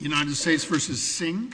United States v. Singh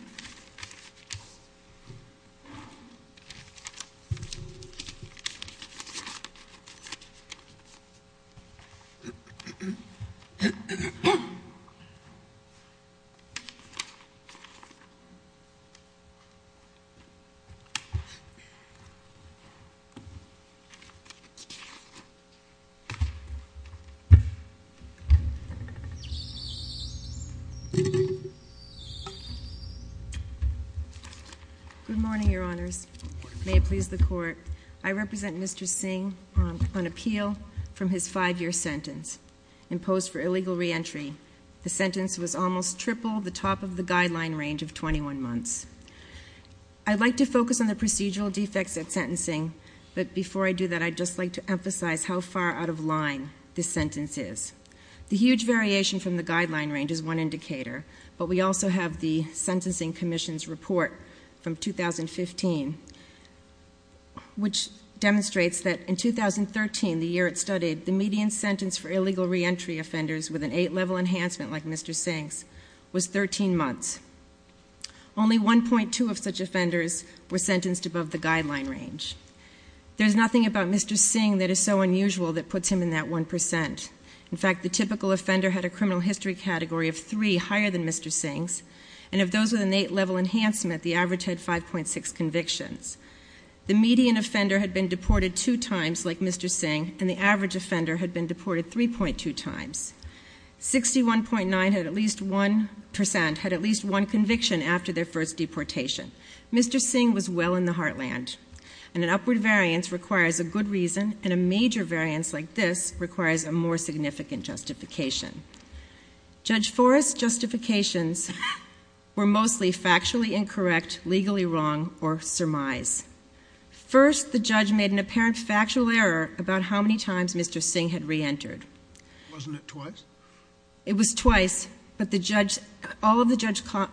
Good morning, Your Honours. May it please the Court. I represent Mr. Singh on appeal from his five-year sentence imposed for illegal re-entry. The sentence was almost triple the top of the guideline range of 21 months. I'd like to focus on the procedural defects at sentencing, but before I do that, I'd just like to emphasize how far out of line this is one indicator, but we also have the Sentencing Commission's report from 2015, which demonstrates that in 2013, the year it studied, the median sentence for illegal re-entry offenders with an eight-level enhancement like Mr. Singh's was 13 months. Only 1.2 of such offenders were sentenced above the guideline range. There's nothing about Mr. Singh that is so unusual that puts him in that 1%. In fact, the typical offender had a criminal history category of three higher than Mr. Singh's, and of those with an eight-level enhancement, the average had 5.6 convictions. The median offender had been deported two times like Mr. Singh, and the average offender had been deported 3.2 times. 61.9% had at least one conviction after their first deportation. Mr. Singh was well in the heartland, and an upward variance requires a good reason, and a major variance like this requires a more Judge Forrest's justifications were mostly factually incorrect, legally wrong, or surmise. First, the judge made an apparent factual error about how many times Mr. Singh had re-entered. Wasn't it twice? It was twice, but all of the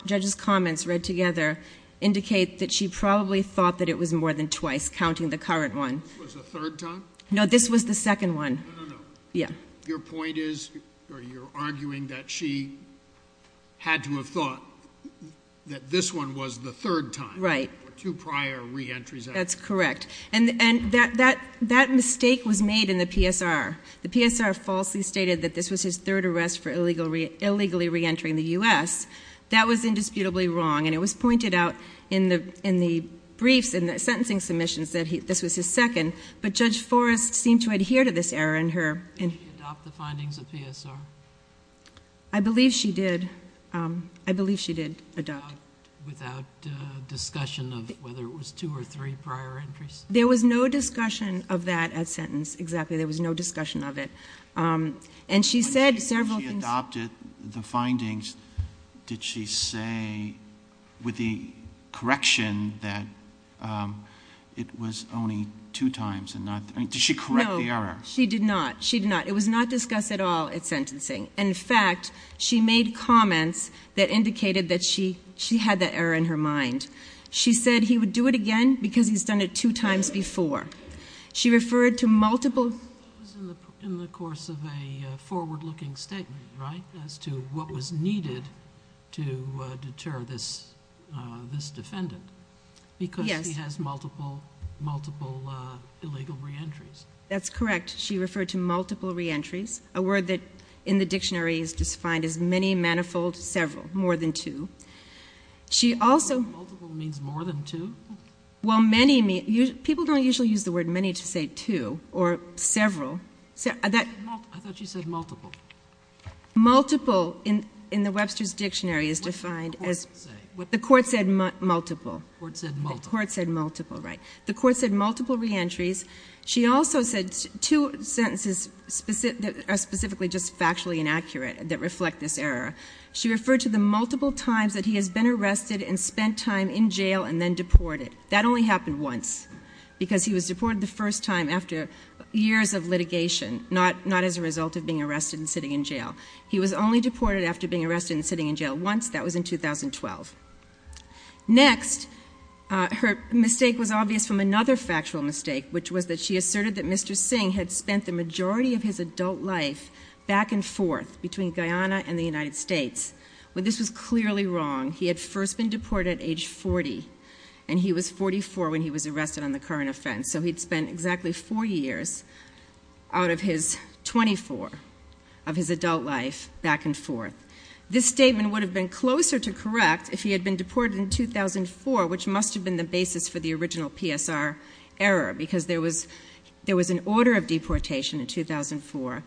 judge's comments read together indicate that she probably thought that it was more than twice, counting the current one. This was the third time? No, this was the second one. No, no, no. Yeah. Your point is, or you're arguing that she had to have thought that this one was the third time. Right. Two prior re-entries. That's correct. And that mistake was made in the PSR. The PSR falsely stated that this was his third arrest for illegally re-entering the U.S. That was indisputably wrong, and it was pointed out in the briefs, in the sentencing submissions that this was his second, but Judge Forrest seemed to adhere to this error in her... Did she adopt the findings of PSR? I believe she did. I believe she did adopt. Without discussion of whether it was two or three prior entries? There was no discussion of that at sentence, exactly. There was no discussion of it. And she said several things... When she adopted the findings, did she say with the correction that it was only two times and not... Did she correct the error? No. She did not. She did not. It was not discussed at all at sentencing. In fact, she made comments that indicated that she had that error in her mind. She said he would do it again because he's done it two times before. She referred to multiple... That was in the course of a forward-looking statement, right, as to what was needed to deter this defendant because he has multiple illegal reentries. That's correct. She referred to multiple reentries, a word that in the dictionary is defined as many manifold several, more than two. She also... Multiple means more than two? Well, many... People don't usually use the word many to say two or several. I thought she said multiple. Multiple in the Webster's Dictionary is defined as... What did the court say? The court said multiple. The court said multiple. The court said multiple reentries. She also said two sentences that are specifically just factually inaccurate that reflect this error. She referred to the multiple times that he has been arrested and spent time in jail and then deported. That only happened once because he was deported the first time after years of litigation, not as a result of being arrested and sitting in jail. He was only deported after being arrested and sitting in jail once. That was in 2012. Next, her mistake was obvious from another factual mistake, which was that she asserted that Mr. Singh had spent the majority of his adult life back and forth between Guyana and the United States. This was clearly wrong. He had first been deported at age 40, and he was 44 when he was arrested on the current offense, so he'd spent exactly four years out of his 24 of his adult life back and forth. This statement would have been closer to correct if he had been deported in 2004, which must have been the basis for the original PSR error because there was an order of deportation in 2004,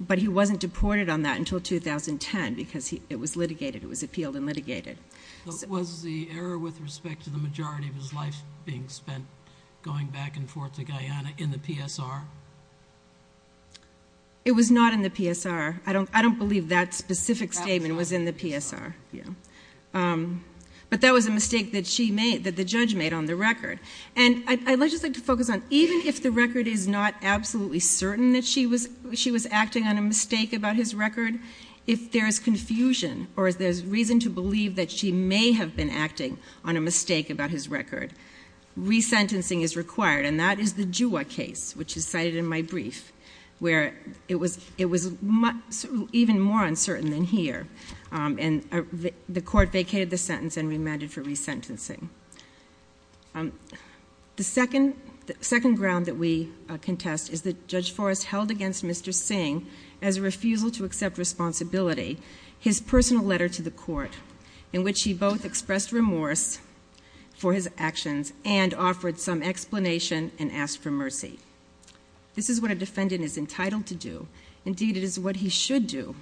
but he wasn't deported on that until 2010 because it was litigated. It was appealed and litigated. Was the error with respect to the majority of his life being spent going back and forth to Guyana in the PSR? It was not in the PSR. I don't believe that specific statement was in the PSR, but that was a mistake that the judge made on the record. I'd just like to focus on even if the record is not absolutely certain that she was acting on a mistake about his record, if there's confusion or if there's reason to believe that she may have been acting on a mistake about his record, resentencing is required, and that is the Juwa case, which is cited in my brief, where it was even more uncertain than here, and the court vacated the sentence and remanded for resentencing. The second ground that we contest is that Judge Forrest held against Mr. Singh as a refusal to accept responsibility his personal letter to the court in which he both expressed remorse for his actions and offered some explanation and asked for mercy. This is what a defendant is entitled to do. Indeed, it is what he should do.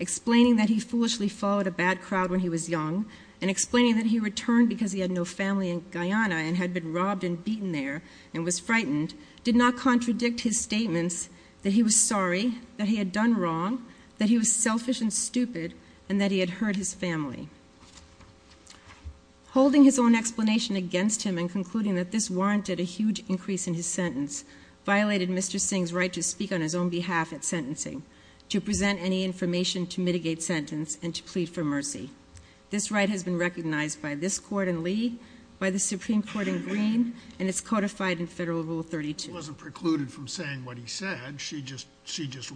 Explaining that he foolishly followed a bad crowd when he was young and explaining that he returned because he had no family in Guyana and had been robbed and beaten there and was frightened did not contradict his statements that he was sorry, that he had done wrong, that he was selfish and stupid, and that he had hurt his family. Holding his own explanation against him and concluding that this warranted a huge increase in his sentence violated Mr. Singh's right to speak on his own behalf at sentencing, to present any information to mitigate sentence, and to plead for mercy. This right has been recognized by this court in Lee, by the Supreme Court in Greene, and it's codified in Federal Rule 32. It wasn't precluded from saying what he said. She just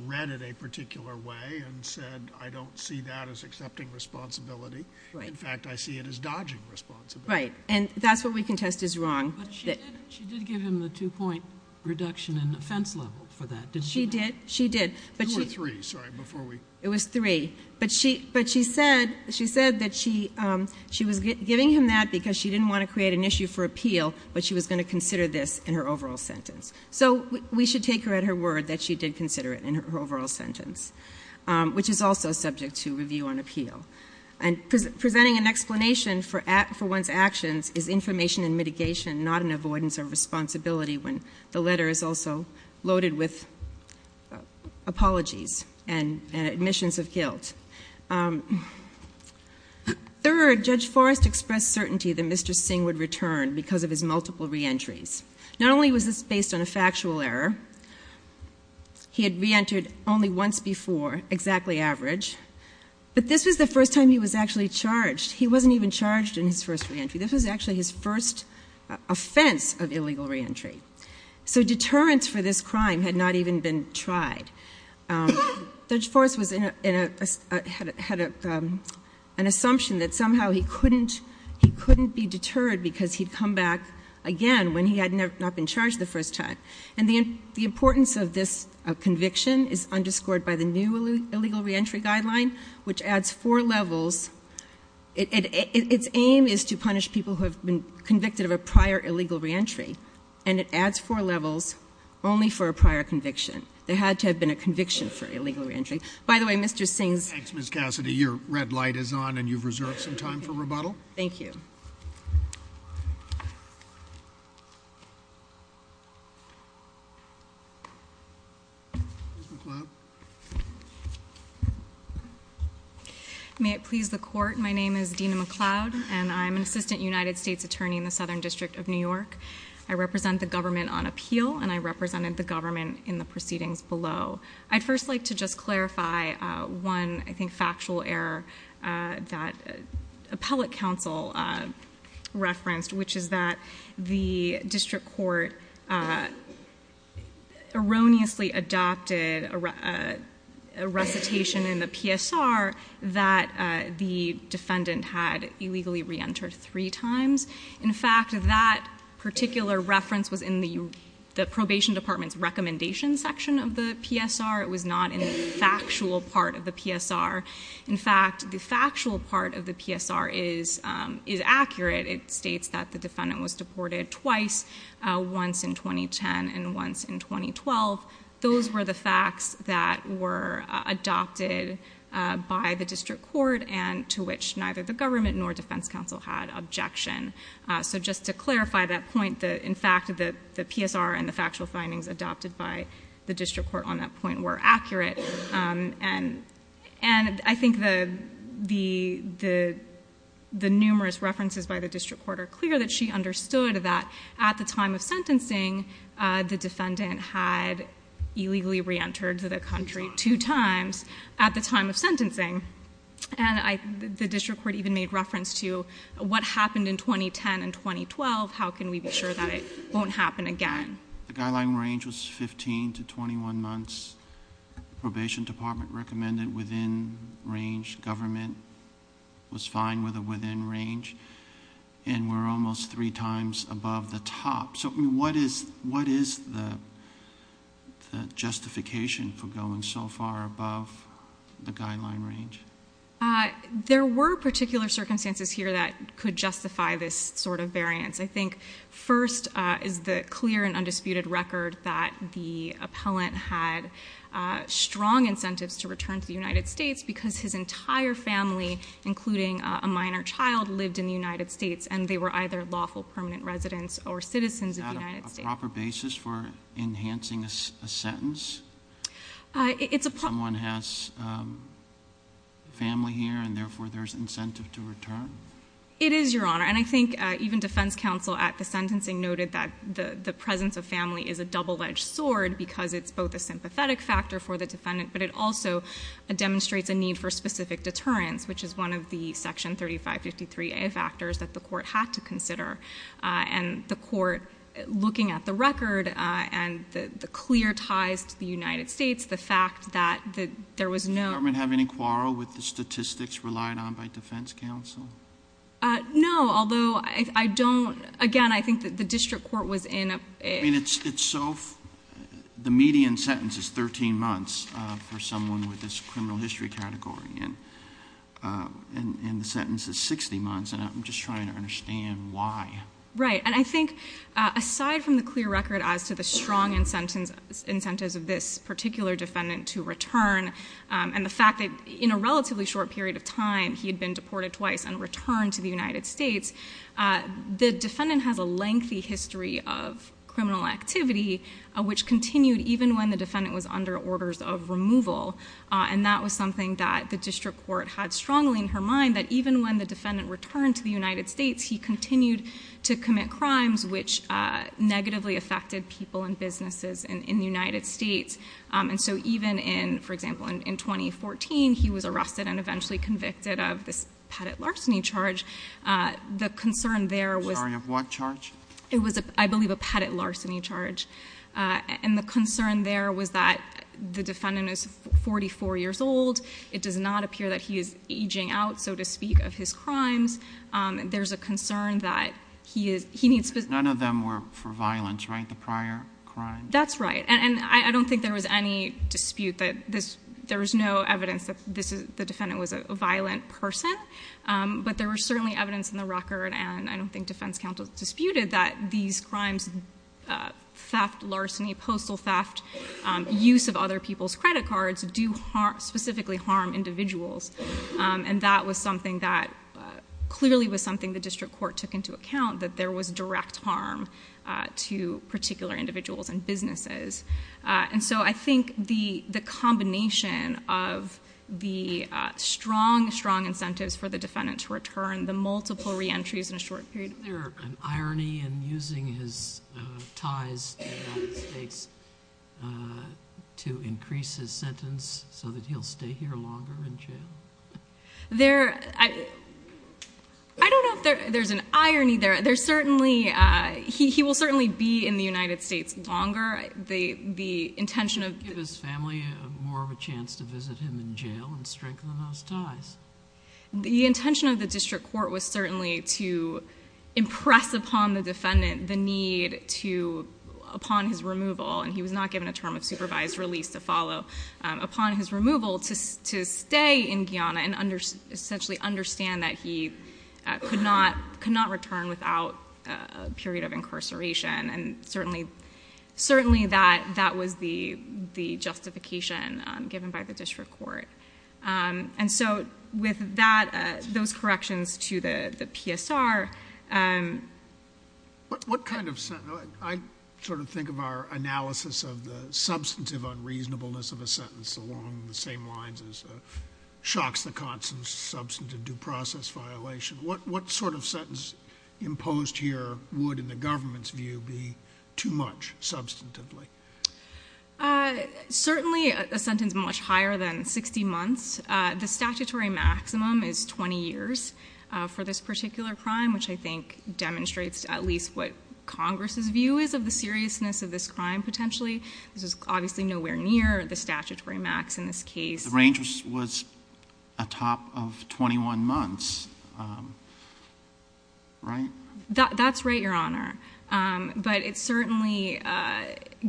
read it a particular way and said, I don't see that as accepting responsibility. In fact, I see it as dodging responsibility. Right. And that's what we contest as wrong. But she did give him the two-point reduction in offense level for that, didn't she? She did. She did. Two or three, sorry, before we... It was three. But she said that she was giving him that because she didn't want to create an issue for appeal, but she was going to consider this in her overall sentence. So we should take her at her word that she did consider it in her overall sentence, which is also subject to review on appeal. And presenting an explanation for one's actions is information and mitigation, not an avoidance of responsibility when the letter is also loaded with apologies and admissions of guilt. Third, Judge Forrest expressed certainty that Mr. Singh would return because of his multiple reentries. Not only was this based on a factual error, he had reentered only once before, exactly average. But this was the first time he was actually charged. He wasn't even charged in his first reentry. This was actually his first offense of illegal reentry. So deterrence for this crime had not even been tried. Judge Forrest had an assumption that somehow he couldn't be deterred because he'd come back again when he had not been charged the first time. And the importance of this conviction is underscored by the new illegal reentry guideline, which adds four levels. Its aim is to punish people who have been convicted of a prior illegal reentry, and it adds four levels only for a prior conviction. There had to have been a conviction for illegal reentry. By the way, Mr. Singh's... Thanks, Ms. Cassidy. Your red light is on, and you've reserved some time for rebuttal. Thank you. Ms. McLeod? May it please the Court, my name is Dina McLeod, and I'm an assistant United States attorney in the Southern District of New York. I represent the government on appeal, and I represented the government in the proceedings below. I'd first like to just clarify one, I think, factual error that appellate counsel referenced, which is that the district court erroneously adopted a recitation in the PSR that the defendant had illegally reentered three times. In fact, that particular reference was in the probation department's recommendation section of the PSR. It was not in the factual part of the PSR. In fact, the factual part of the PSR is accurate. It states that the defendant was deported twice, once in 2010 and once in 2012. Those were the facts that were adopted by the district court, and to which neither the government nor defense counsel had objection. So just to clarify that point, in fact, the PSR and the factual findings adopted by the district court on that point were accurate. And I think the numerous references by the district court are clear that she understood that at the time of sentencing, the defendant had illegally reentered to the country two times at the time of sentencing. And the district court even made reference to what happened in 2010 and 2012, how can we be sure that it won't happen again. The guideline range was 15 to 21 months. Probation department recommended within range. Government was fine with it within range. And we're almost three times above the top. So what is the justification for going so far above the guideline range? There were particular circumstances here that could justify this sort of variance. I think first is the clear and undisputed record that the appellant had strong incentives to return to the United States because his entire family, including a minor child, lived in the United States and they were either lawful permanent residents or citizens of the United States. Is there a proper basis for enhancing a sentence? If someone has family here and therefore there's incentive to return? It is, Your Honor. And I think even defense counsel at the sentencing noted that the presence of family is a double-edged sword because it's both a sympathetic factor for the defendant, but it also demonstrates a need for specific deterrence, which is one of the section 3553a factors that the court had to consider. And the court, looking at the record and the clear ties to the United States, the fact that there was no... Does the government have any quarrel with the statistics relied on by defense counsel? No, although I don't... again, I think the district court was in... I mean, it's so... the median sentence is 13 months for someone with this criminal history category and the sentence is 60 months, and I'm just trying to understand why. Right. And I think aside from the clear record as to the strong incentives of this particular defendant to return and the fact that in a relatively short period of time he had been deported twice and returned to the United States, the defendant has a lengthy history of criminal activity, which continued even when the defendant was under orders of removal, and that was something that the district court had strongly in her mind, that even when the defendant returned to the United States, he continued to commit crimes which negatively affected people and businesses in the United States. And so even in, for example, in 2014, he was arrested and eventually convicted of this pettite larceny charge. The concern there was... Sorry, of what charge? It was, I believe, a pettite larceny charge. And the concern there was that the defendant is 44 years old. It does not appear that he is aging out, so to speak, of his crimes. There's a concern that he needs... None of them were for violence, right, the prior crime? That's right. And I don't think there was any dispute that there was no evidence that the defendant was a violent person, but there was certainly evidence in the record, and I don't think defense counsel disputed that these crimes, theft, larceny, postal theft, use of other people's credit cards do specifically harm individuals. And that was something that clearly was something the district court took into account, that there was direct harm to particular individuals and businesses. And so I think the combination of the strong, strong incentives for the defendant to return, the multiple reentries in a short period... Is there an irony in using his ties to the United States to increase his sentence so that he'll stay here longer in jail? There... I don't know if there's an irony there. There's certainly... he will certainly be in the United States longer. The intention of... Give his family more of a chance to visit him in jail and strengthen those ties. The intention of the district court was certainly to impress upon the defendant the need to, upon his removal, and he was not given a term of supervised release to follow, upon his removal to stay in Guyana and essentially understand that he could not return without a period of incarceration. And certainly that was the justification given by the district court. And so with that, those corrections to the PSR... What kind of... I sort of think of our analysis of the substantive unreasonableness of a sentence along the same lines as shocks, the constant substantive due process violation. What sort of sentence imposed here would, in the government's view, be too much substantively? Certainly a sentence much higher than 60 months. The statutory maximum is 20 years for this particular crime, which I think demonstrates at least what Congress's view is of the seriousness of this crime potentially. This is obviously nowhere near the statutory max in this case. The range was atop of 21 months, right? That's right, Your Honor. But it certainly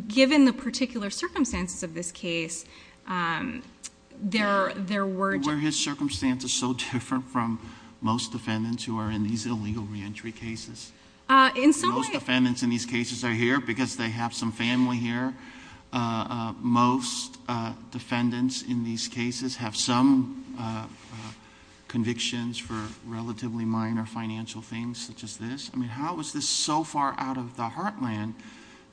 given the particular circumstances of this case, there were... Were his circumstances so different from most defendants who are in these illegal re-entry cases? In some way. Most defendants in these cases are here because they have some family here. Most defendants in these cases have some convictions for relatively minor financial things such as this. How is this so far out of the heartland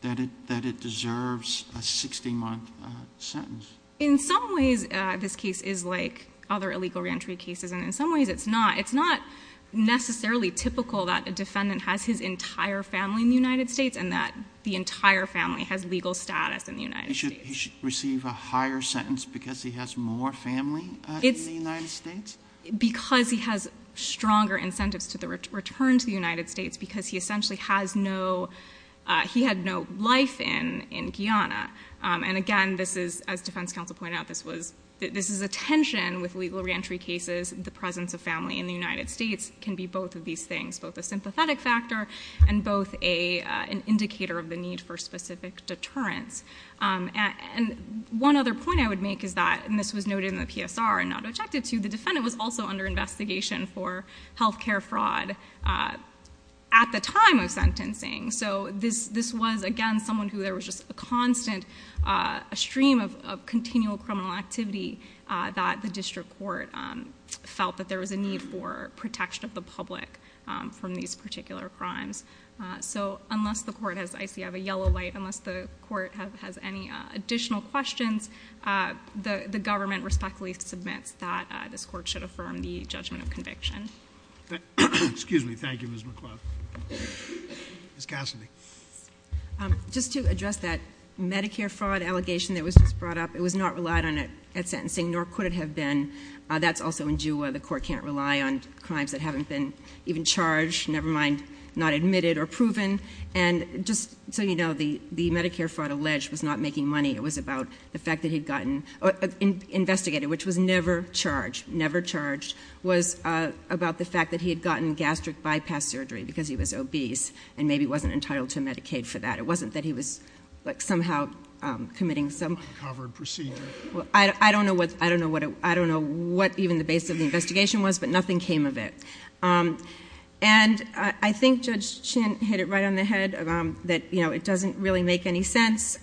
that it deserves a 60-month sentence? In some ways, this case is like other illegal re-entry cases. In some ways, it's not. It's not necessarily typical that a defendant has his entire family in the United States and that the entire family has legal status in the United States. He should receive a higher sentence because he has more family in the United States? Because he has stronger incentives to the return to the United States because he essentially has no... he had no life in Guyana. And again, this is, as defense counsel pointed out, this is a tension with legal re-entry cases. The presence of family in the United States can be both of these things, both a sympathetic factor and both an indicator of the need for specific deterrence. And one other point I would make is that, and this was noted in the PSR and not objected to, the defendant was also under investigation for health care fraud at the time of sentencing. So this was, again, someone who there was just a constant, a stream of continual criminal activity that the district court felt that there was a need for protection of the public from these particular crimes. So unless the court has... I see I have a yellow light. Unless the court has any additional questions, the government respectfully submits that this court should affirm the judgment of conviction. Excuse me. Thank you, Ms. McLeod. Ms. Cassidy. Just to address that Medicare fraud allegation that was just brought up, it was not relied on at sentencing, nor could it have been. That's also in Jewa. The court can't rely on crimes that haven't been even charged, never mind not admitted or proven. And just so you know, the Medicare fraud alleged was not making money. It was about the fact that he'd gotten investigated, which was never charged, never charged, was about the fact that he had gotten gastric bypass surgery because he was obese and maybe wasn't entitled to Medicaid for that. It wasn't that he was somehow committing some... Uncovered procedure. Well, I don't know what even the basis of the investigation was, but nothing came of it. And I think Judge Chin hit it right on the head that it doesn't really make any sense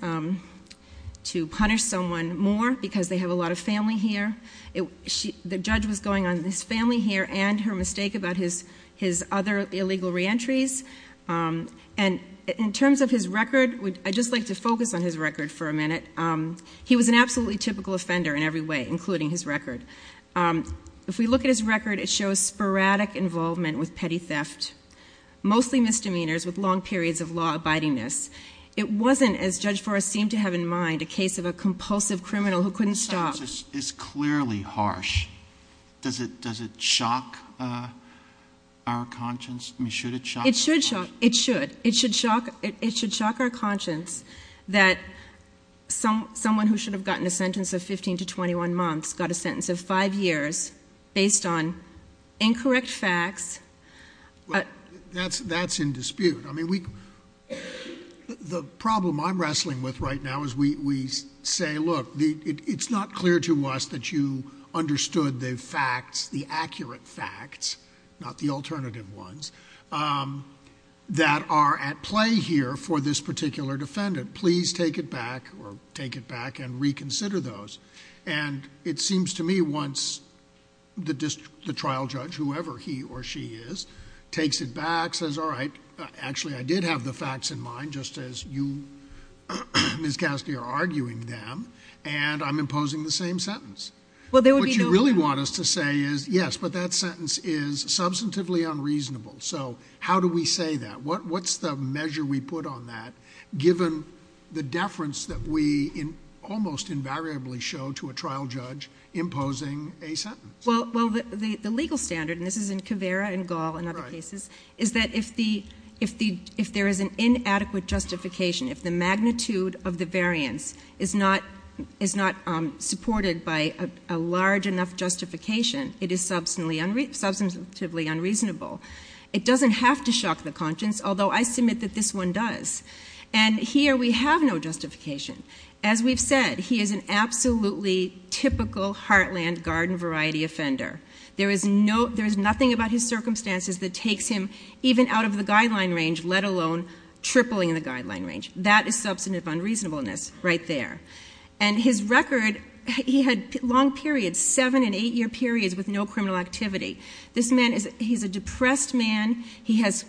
to punish someone more because they have a lot of family here. The judge was going on his family here and her mistake about his other illegal reentries. And in terms of his record, I'd just like to focus on his record for a minute. He was an absolutely typical offender in every way, including his record. If we look at his record, it shows sporadic involvement with petty theft, mostly misdemeanors with long periods of law abidingness. It wasn't, as Judge Forrest seemed to have in mind, a case of a compulsive criminal who couldn't stop... This sentence is clearly harsh. Does it shock our conscience? I mean, should it shock our conscience? It should shock. It should. It should shock our conscience that someone who should have gotten a sentence of 15 to 21 months got a sentence of five years based on incorrect facts. That's in dispute. I mean, the problem I'm wrestling with right now is we say, look, it's not clear to us that you understood the facts, the accurate facts, not the alternative ones, that are at play here for this particular defendant. Please take it back or take it back and reconsider those. And it seems to me once the trial judge, whoever he or she is, takes it back, says, all right, actually, I did have the facts in mind, just as you, Ms. Caskey, are arguing them, and I'm imposing the same sentence. Well, there would be no... What you really want us to say is, yes, but that sentence is substantively unreasonable. So how do we say that? What's the measure we put on that, given the deference that we almost invariably show to a trial judge imposing a sentence? Well, the legal standard, and this is in Caveira and Gall and other cases, is that if there is an inadequate justification, if the magnitude of the variance is not supported by a large enough justification, it is substantively unreasonable. It doesn't have to shock the conscience, although I submit that this one does. And here we have no justification. As we've said, he is an absolutely typical Heartland garden variety offender. There is nothing about his circumstances that takes him even out of the guideline range, let alone tripling the guideline range. That is substantive unreasonableness right there. And his record, he had long periods, seven- and eight-year periods with no criminal activity. This man is... he's a depressed man. He has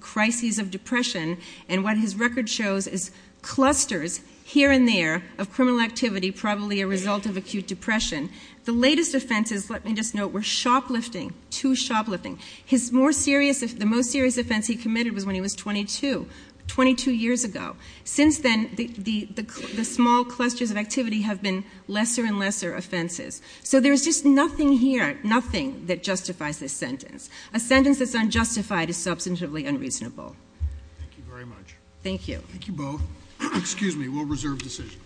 crises of depression, and what his record shows is clusters here and there of criminal activity, probably a result of acute depression. The latest offenses, let me just note, were shoplifting, too shoplifting. His more serious... the most serious offense he committed was when he was 22, 22 years ago. Since then, the small clusters of activity have been lesser and lesser offenses. So there is just nothing here, nothing that justifies this sentence. A sentence that's unjustified is substantively unreasonable. Thank you very much. Thank you. Thank you both. Excuse me, we'll reserve decision.